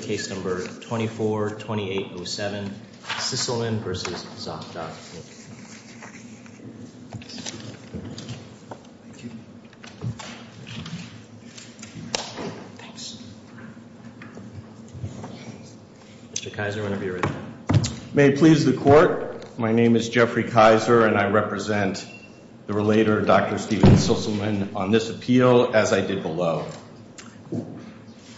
case number 24-28-07, Sisselman v. Zokdok. Thanks. Mr. Kaiser, whenever you're ready. May it please the Court, my name is Jeffrey Kaiser and I represent the relator, Dr. Steven Sisselman, on this appeal as I did below.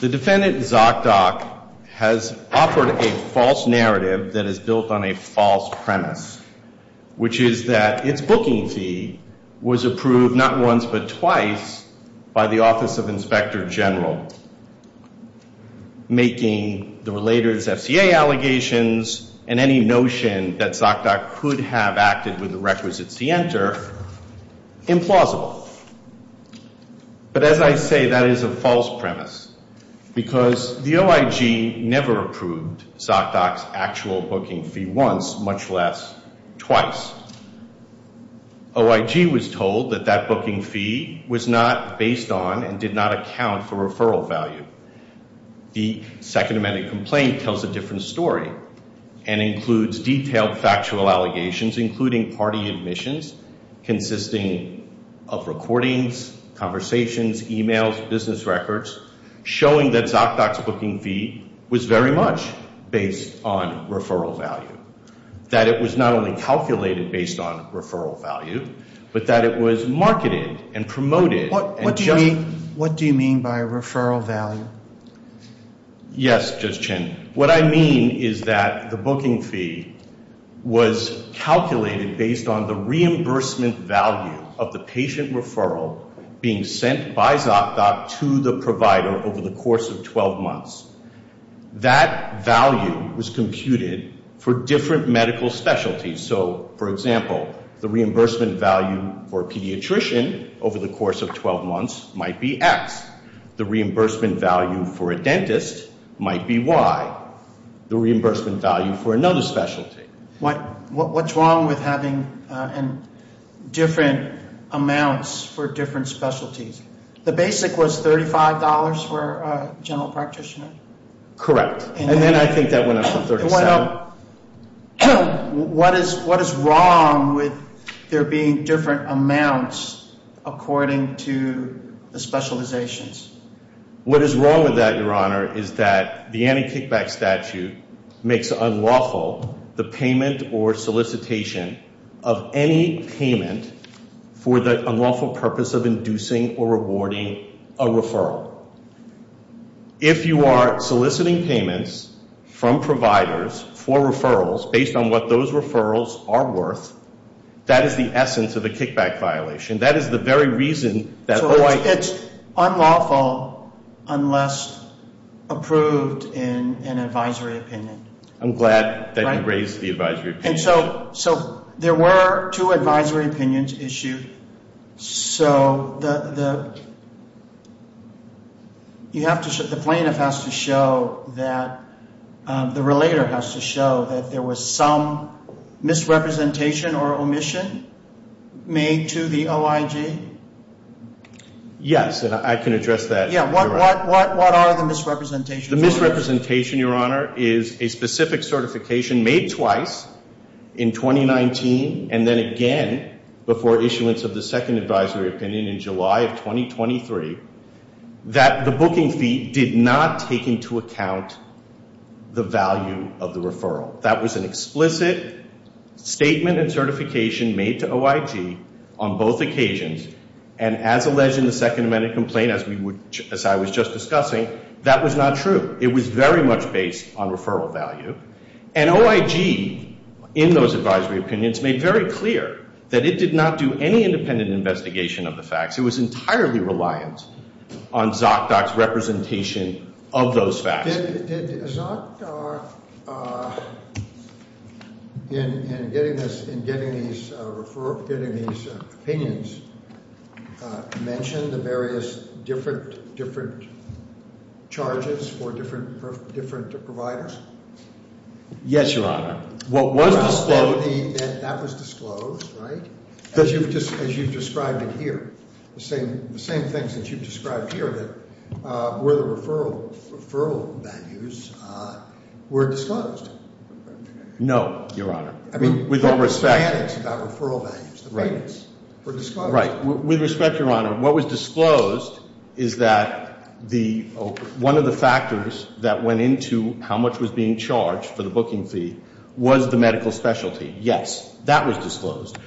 The defendant, Zokdok, has offered a false narrative that is built on a false premise, which is that its booking fee was approved not once but twice by the Office of Inspector General, making the relator's FCA allegations and any notion that Zokdok could have acted with the requisites to enter, implausible. But as I say, that is a false premise because the OIG never approved Zokdok's actual booking fee once, much less twice. OIG was told that that booking fee was not based on and did not account for referral value. The Second Amendment complaint tells a different story and includes detailed factual allegations including party admissions, consisting of recordings, conversations, e-mails, business records, showing that Zokdok's booking fee was very much based on referral value. That it was not only calculated based on referral value, but that it was marketed and promoted What do you mean by referral value? Yes, Judge Chin. What I mean is that the booking fee was calculated based on the reimbursement value of the patient referral being sent by Zokdok to the provider over the course of 12 months. That value was computed for different medical specialties. So, for example, the reimbursement value for a pediatrician over the course of 12 months might be X. The reimbursement value for a dentist might be Y. The reimbursement value for another specialty. What's wrong with having different amounts for different specialties? The basic was $35 for a general practitioner? Correct. And then I think that went up to $37. So, what is wrong with there being different amounts according to the specializations? What is wrong with that, Your Honor, is that the anti-kickback statute makes unlawful the payment or solicitation of any payment for the unlawful purpose of inducing or rewarding a referral. If you are soliciting payments from providers for referrals based on what those referrals are worth, that is the essence of a kickback violation. That is the very reason that Hawaii... So, it's unlawful unless approved in an advisory opinion. I'm glad that you raised the advisory opinion. So, there were two advisory opinions issued. So, the plaintiff has to show that, the relator has to show that there was some misrepresentation or omission made to the OIG? Yes, I can address that. What are the misrepresentations? The misrepresentation, Your Honor, is a specific certification made twice in 2019 and then again before issuance of the second advisory opinion in July of 2023 that the booking fee did not take into account the value of the referral. That was an explicit statement and certification made to OIG on both occasions and as alleged in the Second Amendment complaint, as I was just discussing, that was not true. It was very much based on referral value. And OIG, in those advisory opinions, made very clear that it did not do any independent investigation of the facts. It was entirely reliant on Zot Doc's representation of those facts. Did Zot Doc, in getting these opinions, mention the various different charges for different providers? Yes, Your Honor. That was disclosed, right? As you've described it here. The same things that you've described here, that were the referral values, were disclosed. No, Your Honor. I mean, with all respect. The payments were disclosed. With respect, Your Honor, what was disclosed is that one of the factors that went into how much was being charged for the booking fee was the medical specialty. Yes, that was disclosed.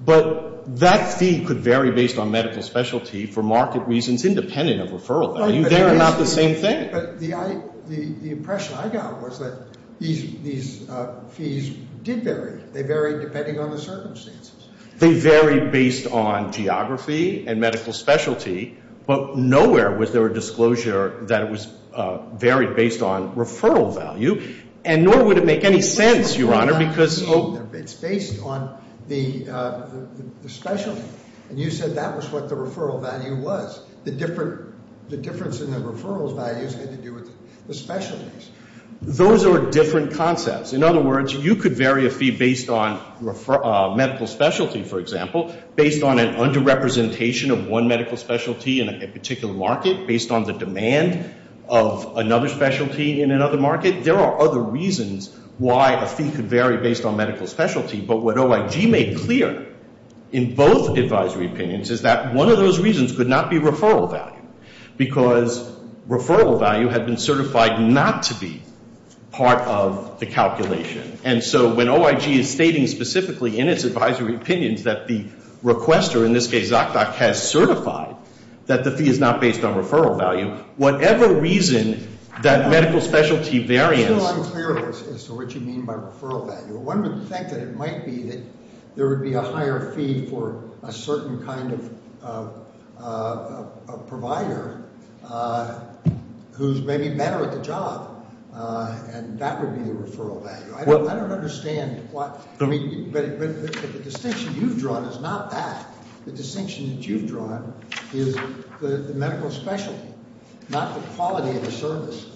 But that fee could vary based on medical specialty for market reasons independent of referral value. They're not the same thing. But the impression I got was that these fees did vary. They varied depending on the circumstances. They varied based on geography and medical specialty. But nowhere was there a disclosure that it varied based on referral value. And nor would it make any sense, Your Honor, because... It's based on the specialty. And you said that was what the referral value was. The difference in the referral values had to do with the specialties. Those are different concepts. In other words, you could vary a fee based on medical specialty, for example, based on an underrepresentation of one medical specialty in a particular market, based on the demand of another specialty in another market. There are other reasons why a fee could vary based on medical specialty. But what OIG made clear in both advisory opinions is that one of those reasons could not be referral value because referral value had been certified not to be part of the calculation. And so when OIG is stating specifically in its advisory opinions that the requester, in this case, Zaktok, has certified that the fee is not based on referral value, whatever reason that medical specialty variance... I'm still unclear as to what you mean by referral value. One would think that it might be that there would be a higher fee for a certain kind of provider who's maybe better at the job, and that would be the referral value. I don't understand what... But the distinction you've drawn is not that. The distinction that you've drawn is the medical specialty, not the quality of the service.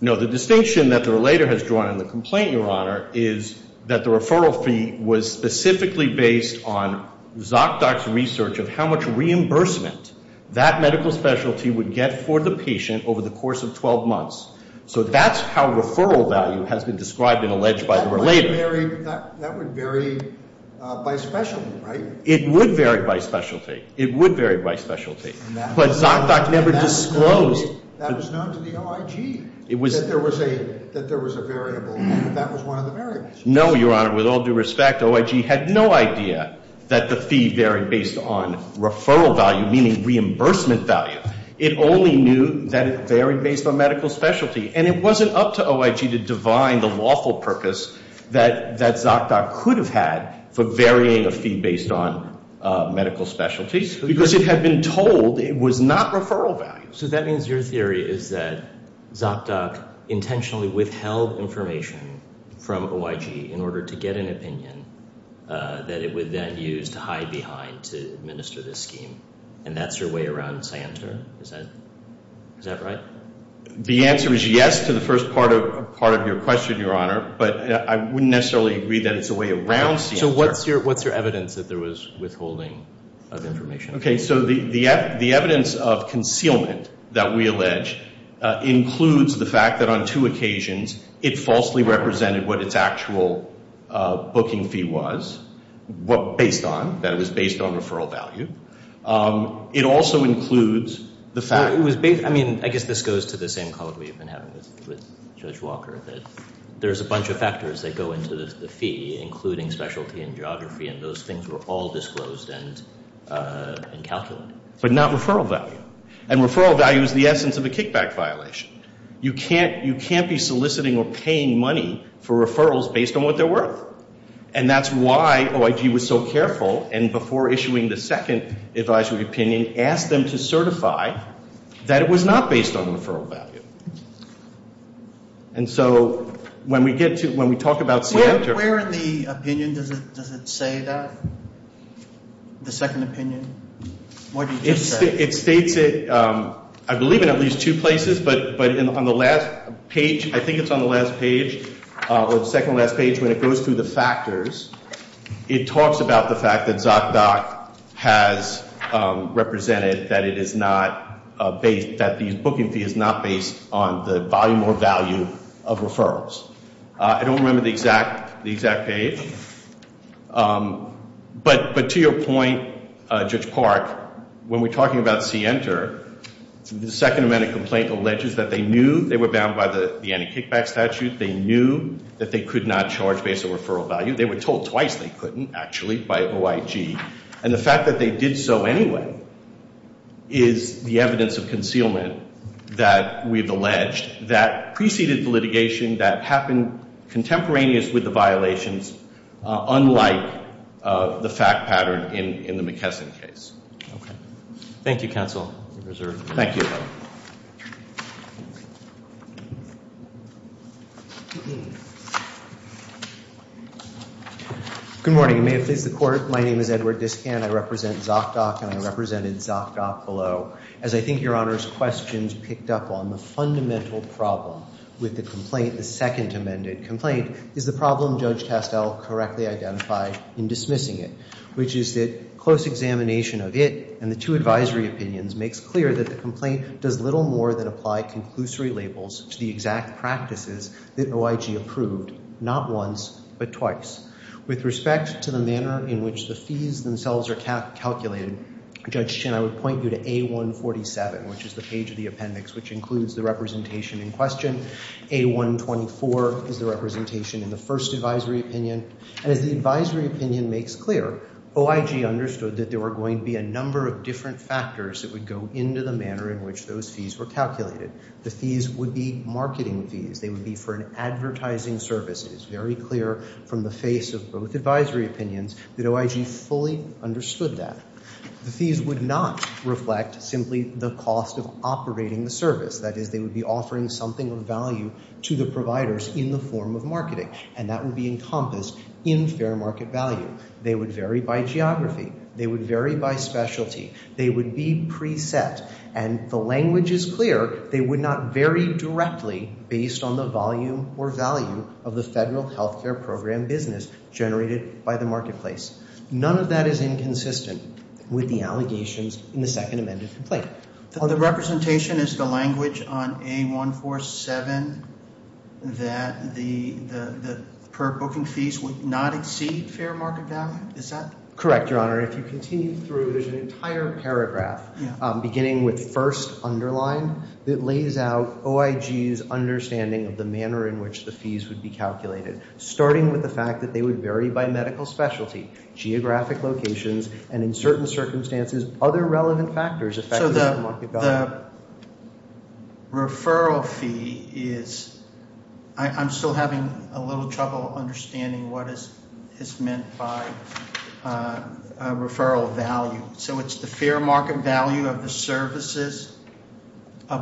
No, the distinction that the relator has drawn in the complaint, Your Honor, is that the referral fee was specifically based on Zaktok's research of how much reimbursement that medical specialty would get for the patient over the course of 12 months. So that's how referral value has been described and alleged by the relator. That would vary by specialty, right? It would vary by specialty. It would vary by specialty. But Zaktok never disclosed... That was known to the OIG, that there was a variable. That was one of the variables. No, Your Honor. With all due respect, OIG had no idea that the fee varied based on referral value, meaning reimbursement value. It only knew that it varied based on medical specialty. And it wasn't up to OIG to divine the lawful purpose that Zaktok could have had for varying a fee based on medical specialties because it had been told it was not referral value. So that means your theory is that Zaktok intentionally withheld information from OIG in order to get an opinion that it would then use to hide behind to administer this scheme. And that's your way around this answer? Is that right? The answer is yes to the first part of your question, Your Honor. But I wouldn't necessarily agree that it's a way around the answer. So what's your evidence that there was withholding of information? Okay, so the evidence of concealment that we allege includes the fact that on two occasions it falsely represented what its actual booking fee was based on, that it was based on referral value. It also includes the fact... I mean, I guess this goes to the same call that we've been having with Judge Walker, that there's a bunch of factors that go into the fee, including specialty and geography, and those things were all disclosed and calculated. But not referral value. And referral value is the essence of a kickback violation. You can't be soliciting or paying money for referrals based on what they're worth. And that's why OIG was so careful, and before issuing the second advisory opinion, asked them to certify that it was not based on referral value. And so when we get to, when we talk about... Where in the opinion does it say that, the second opinion? It states it, I believe, in at least two places, but on the last page, I think it's on the last page, or the second to last page, when it goes through the factors, it talks about the fact that Zot Doc has represented that it is not based, that the booking fee is not based on the volume or value of referrals. I don't remember the exact page. But to your point, Judge Park, when we're talking about C-Enter, the second amendment complaint alleges that they knew they were bound by the anti-kickback statute, they knew that they could not charge based on referral value. They were told twice they couldn't, actually, by OIG. And the fact that they did so anyway is the evidence of concealment that we've alleged that preceded the litigation that happened contemporaneous with the violations, unlike the fact pattern in the McKesson case. Thank you, counsel. Good morning, and may it please the Court, my name is Edward Discan, I represent Zot Doc, and I represented Zot Doc below, as I think your Honor's questions picked up on the fundamental problem with the complaint, the second amended complaint, is the problem Judge Tastell correctly identified in dismissing it, which is that close examination of it and the two advisory opinions makes clear that the complaint does little more than apply conclusory labels to the exact practices that OIG approved, not once, but twice. With respect to the manner in which the fees themselves are calculated, Judge Chin, I would point you to A-147, which is the page of the appendix, which includes the representation in question. A-124 is the representation in the first advisory opinion. And as the advisory opinion makes clear, OIG understood that there were going to be a number of different factors that would go into the manner in which those fees were calculated. The fees would be marketing fees, they would be for an advertising service. It is very clear from the face of both advisory opinions that OIG fully understood that. The fees would not reflect simply the cost of operating the service, that is, they would be offering something of value to the providers in the form of marketing, and that would be encompassed in fair market value. They would vary by geography, they would vary by specialty, they would be preset. And the language is clear, they would not vary directly based on the volume or value of the federal health care program business generated by the marketplace. None of that is inconsistent with the allegations in the second amended complaint. The representation is the language on A-147 that the per-booking fees would not exceed fair market value, is that? Correct, Your Honor. If you continue through, there's an entire paragraph beginning with first underlined that lays out OIG's understanding of the manner in which the fees would be calculated, starting with the fact that they would vary by medical specialty, geographic locations, and in certain circumstances other relevant factors affecting the market value. So the referral fee is, I'm still having a little trouble understanding what is meant by referral value. So it's the fair market value of the services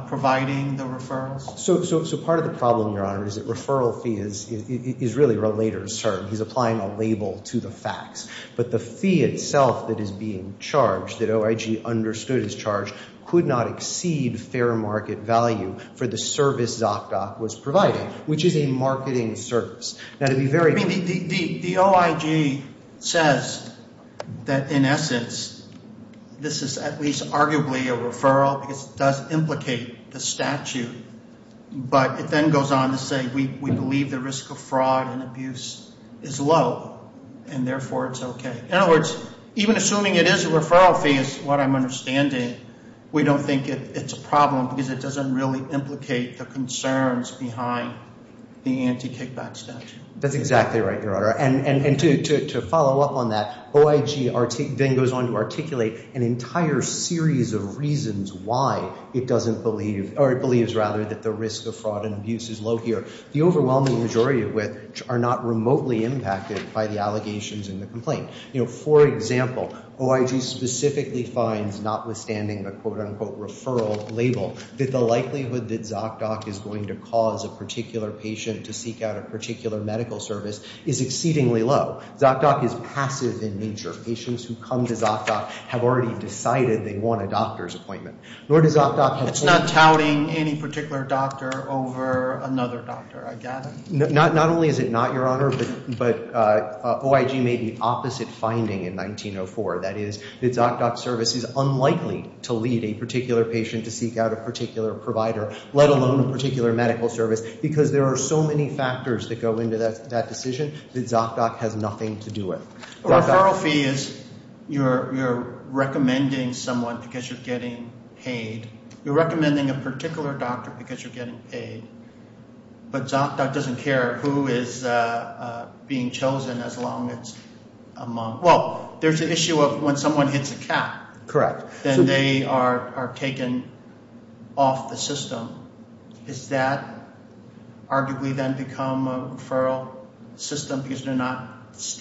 providing the referrals? So part of the problem, Your Honor, is that referral fee is really a later assert. He's applying a label to the facts. But the fee itself that is being charged, that OIG understood is charged, could not exceed fair market value for the service ZocDoc was providing, which is a marketing service. The OIG says that, in essence, this is at least arguably a referral because it does implicate the statute. But it then goes on to say we believe the risk of fraud and abuse is low, and therefore it's okay. In other words, even assuming it is a referral fee is what I'm understanding, we don't think it's a problem because it doesn't really implicate the concerns behind the anti-kickback statute. That's exactly right, Your Honor. And to follow up on that, OIG then goes on to articulate an entire series of reasons why it doesn't believe or it believes, rather, that the risk of fraud and abuse is low here. The overwhelming majority of which are not remotely impacted by the allegations in the complaint. You know, for example, OIG specifically finds, notwithstanding the quote-unquote referral label, that the likelihood that ZocDoc is going to cause a particular patient to seek out a particular medical service is exceedingly low. ZocDoc is passive in nature. Patients who come to ZocDoc have already decided they want a doctor's appointment. It's not touting any particular doctor over another doctor, I gather. Not only is it not, Your Honor, but OIG made the opposite finding in 1904. That is, the ZocDoc service is unlikely to lead a particular patient to seek out a particular provider, let alone a particular medical service, because there are so many factors that go into that decision that ZocDoc has nothing to do with. A referral fee is you're recommending someone because you're getting paid. You're recommending a particular doctor because you're getting paid. But ZocDoc doesn't care who is being chosen as long as it's among – well, there's an issue of when someone hits a cap. Correct. Then they are taken off the system. Is that arguably then become a referral system because they're not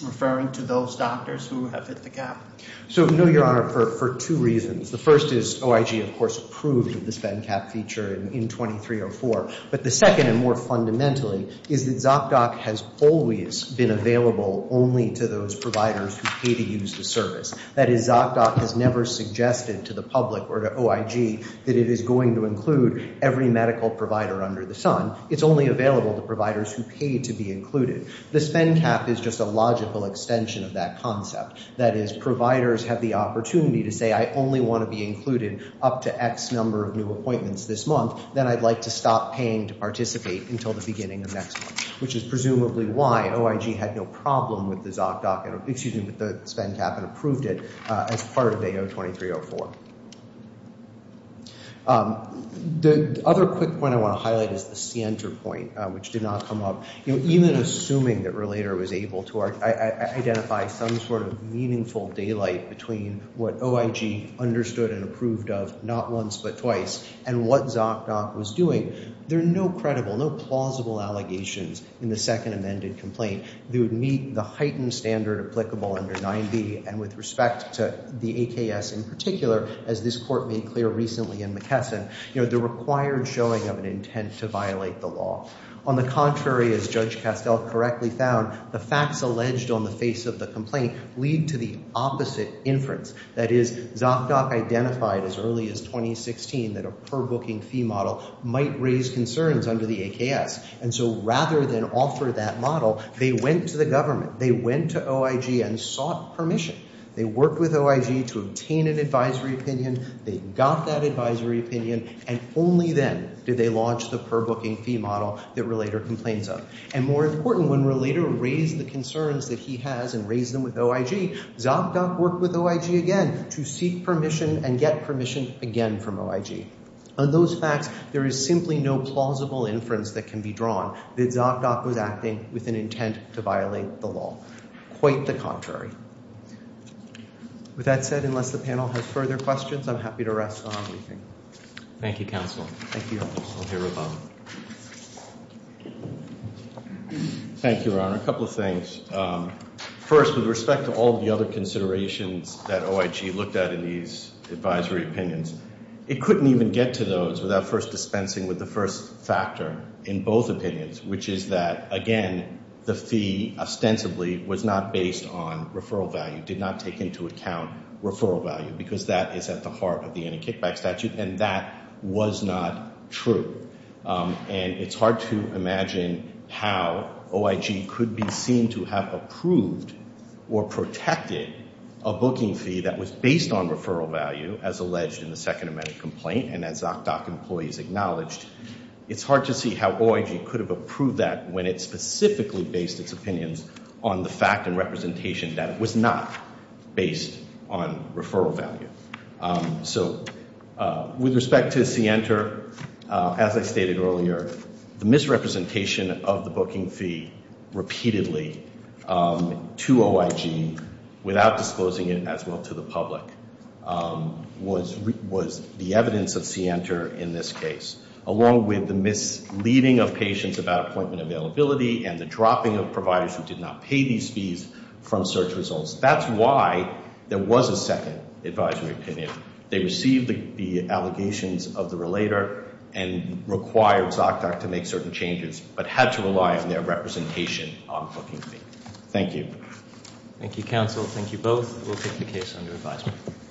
referring to those doctors who have hit the cap? So, no, Your Honor, for two reasons. The first is OIG, of course, approved of the spend cap feature in 2304. But the second and more fundamentally is that ZocDoc has always been available only to those providers who pay to use the service. That is, ZocDoc has never suggested to the public or to OIG that it is going to include every medical provider under the sun. It's only available to providers who pay to be included. The spend cap is just a logical extension of that concept. That is, providers have the opportunity to say I only want to be included up to X number of new appointments this month, then I'd like to stop paying to participate until the beginning of next month, which is presumably why OIG had no problem with the ZocDoc – excuse me, with the spend cap and approved it as part of A02304. The other quick point I want to highlight is the center point, which did not come up. Even assuming that Relator was able to identify some sort of meaningful daylight between what OIG understood and approved of not once but twice and what ZocDoc was doing, there are no credible, no plausible allegations in the second amended complaint that would meet the heightened standard applicable under 9b and with respect to the AKS in particular, as this court made clear recently in McKesson, the required showing of an intent to violate the law. On the contrary, as Judge Castell correctly found, the facts alleged on the face of the complaint lead to the opposite inference. That is, ZocDoc identified as early as 2016 that a per-booking fee model might raise concerns under the AKS, and so rather than offer that model, they went to the government. They went to OIG and sought permission. They worked with OIG to obtain an advisory opinion. They got that advisory opinion, and only then did they launch the per-booking fee model that Relator complains of. And more important, when Relator raised the concerns that he has and raised them with OIG, ZocDoc worked with OIG again to seek permission and get permission again from OIG. On those facts, there is simply no plausible inference that can be drawn that ZocDoc was acting with an intent to violate the law. Quite the contrary. With that said, unless the panel has further questions, I'm happy to rest on leaving. Thank you, Counsel. Thank you, Your Honor. I'll hear with Bob. Thank you, Your Honor. A couple of things. First, with respect to all the other considerations that OIG looked at in these advisory opinions, it couldn't even get to those without first dispensing with the first factor in both opinions, which is that, again, the fee ostensibly was not based on referral value, did not take into account referral value, because that is at the heart of the anti-kickback statute, and that was not true. And it's hard to imagine how OIG could be seen to have approved or protected a booking fee that was based on referral value, as alleged in the second amendment complaint and as ZocDoc employees acknowledged. It's hard to see how OIG could have approved that when it specifically based its opinions on the fact and representation that it was not based on referral value. So with respect to CENTER, as I stated earlier, the misrepresentation of the booking fee repeatedly to OIG, without disclosing it as well to the public, was the evidence of CENTER in this case, along with the misleading of patients about appointment availability and the dropping of providers who did not pay these fees from search results. That's why there was a second advisory opinion. They received the allegations of the relator and required ZocDoc to make certain changes, but had to rely on their representation on the booking fee. Thank you. Thank you, counsel. Thank you both. We'll take the case under advisement.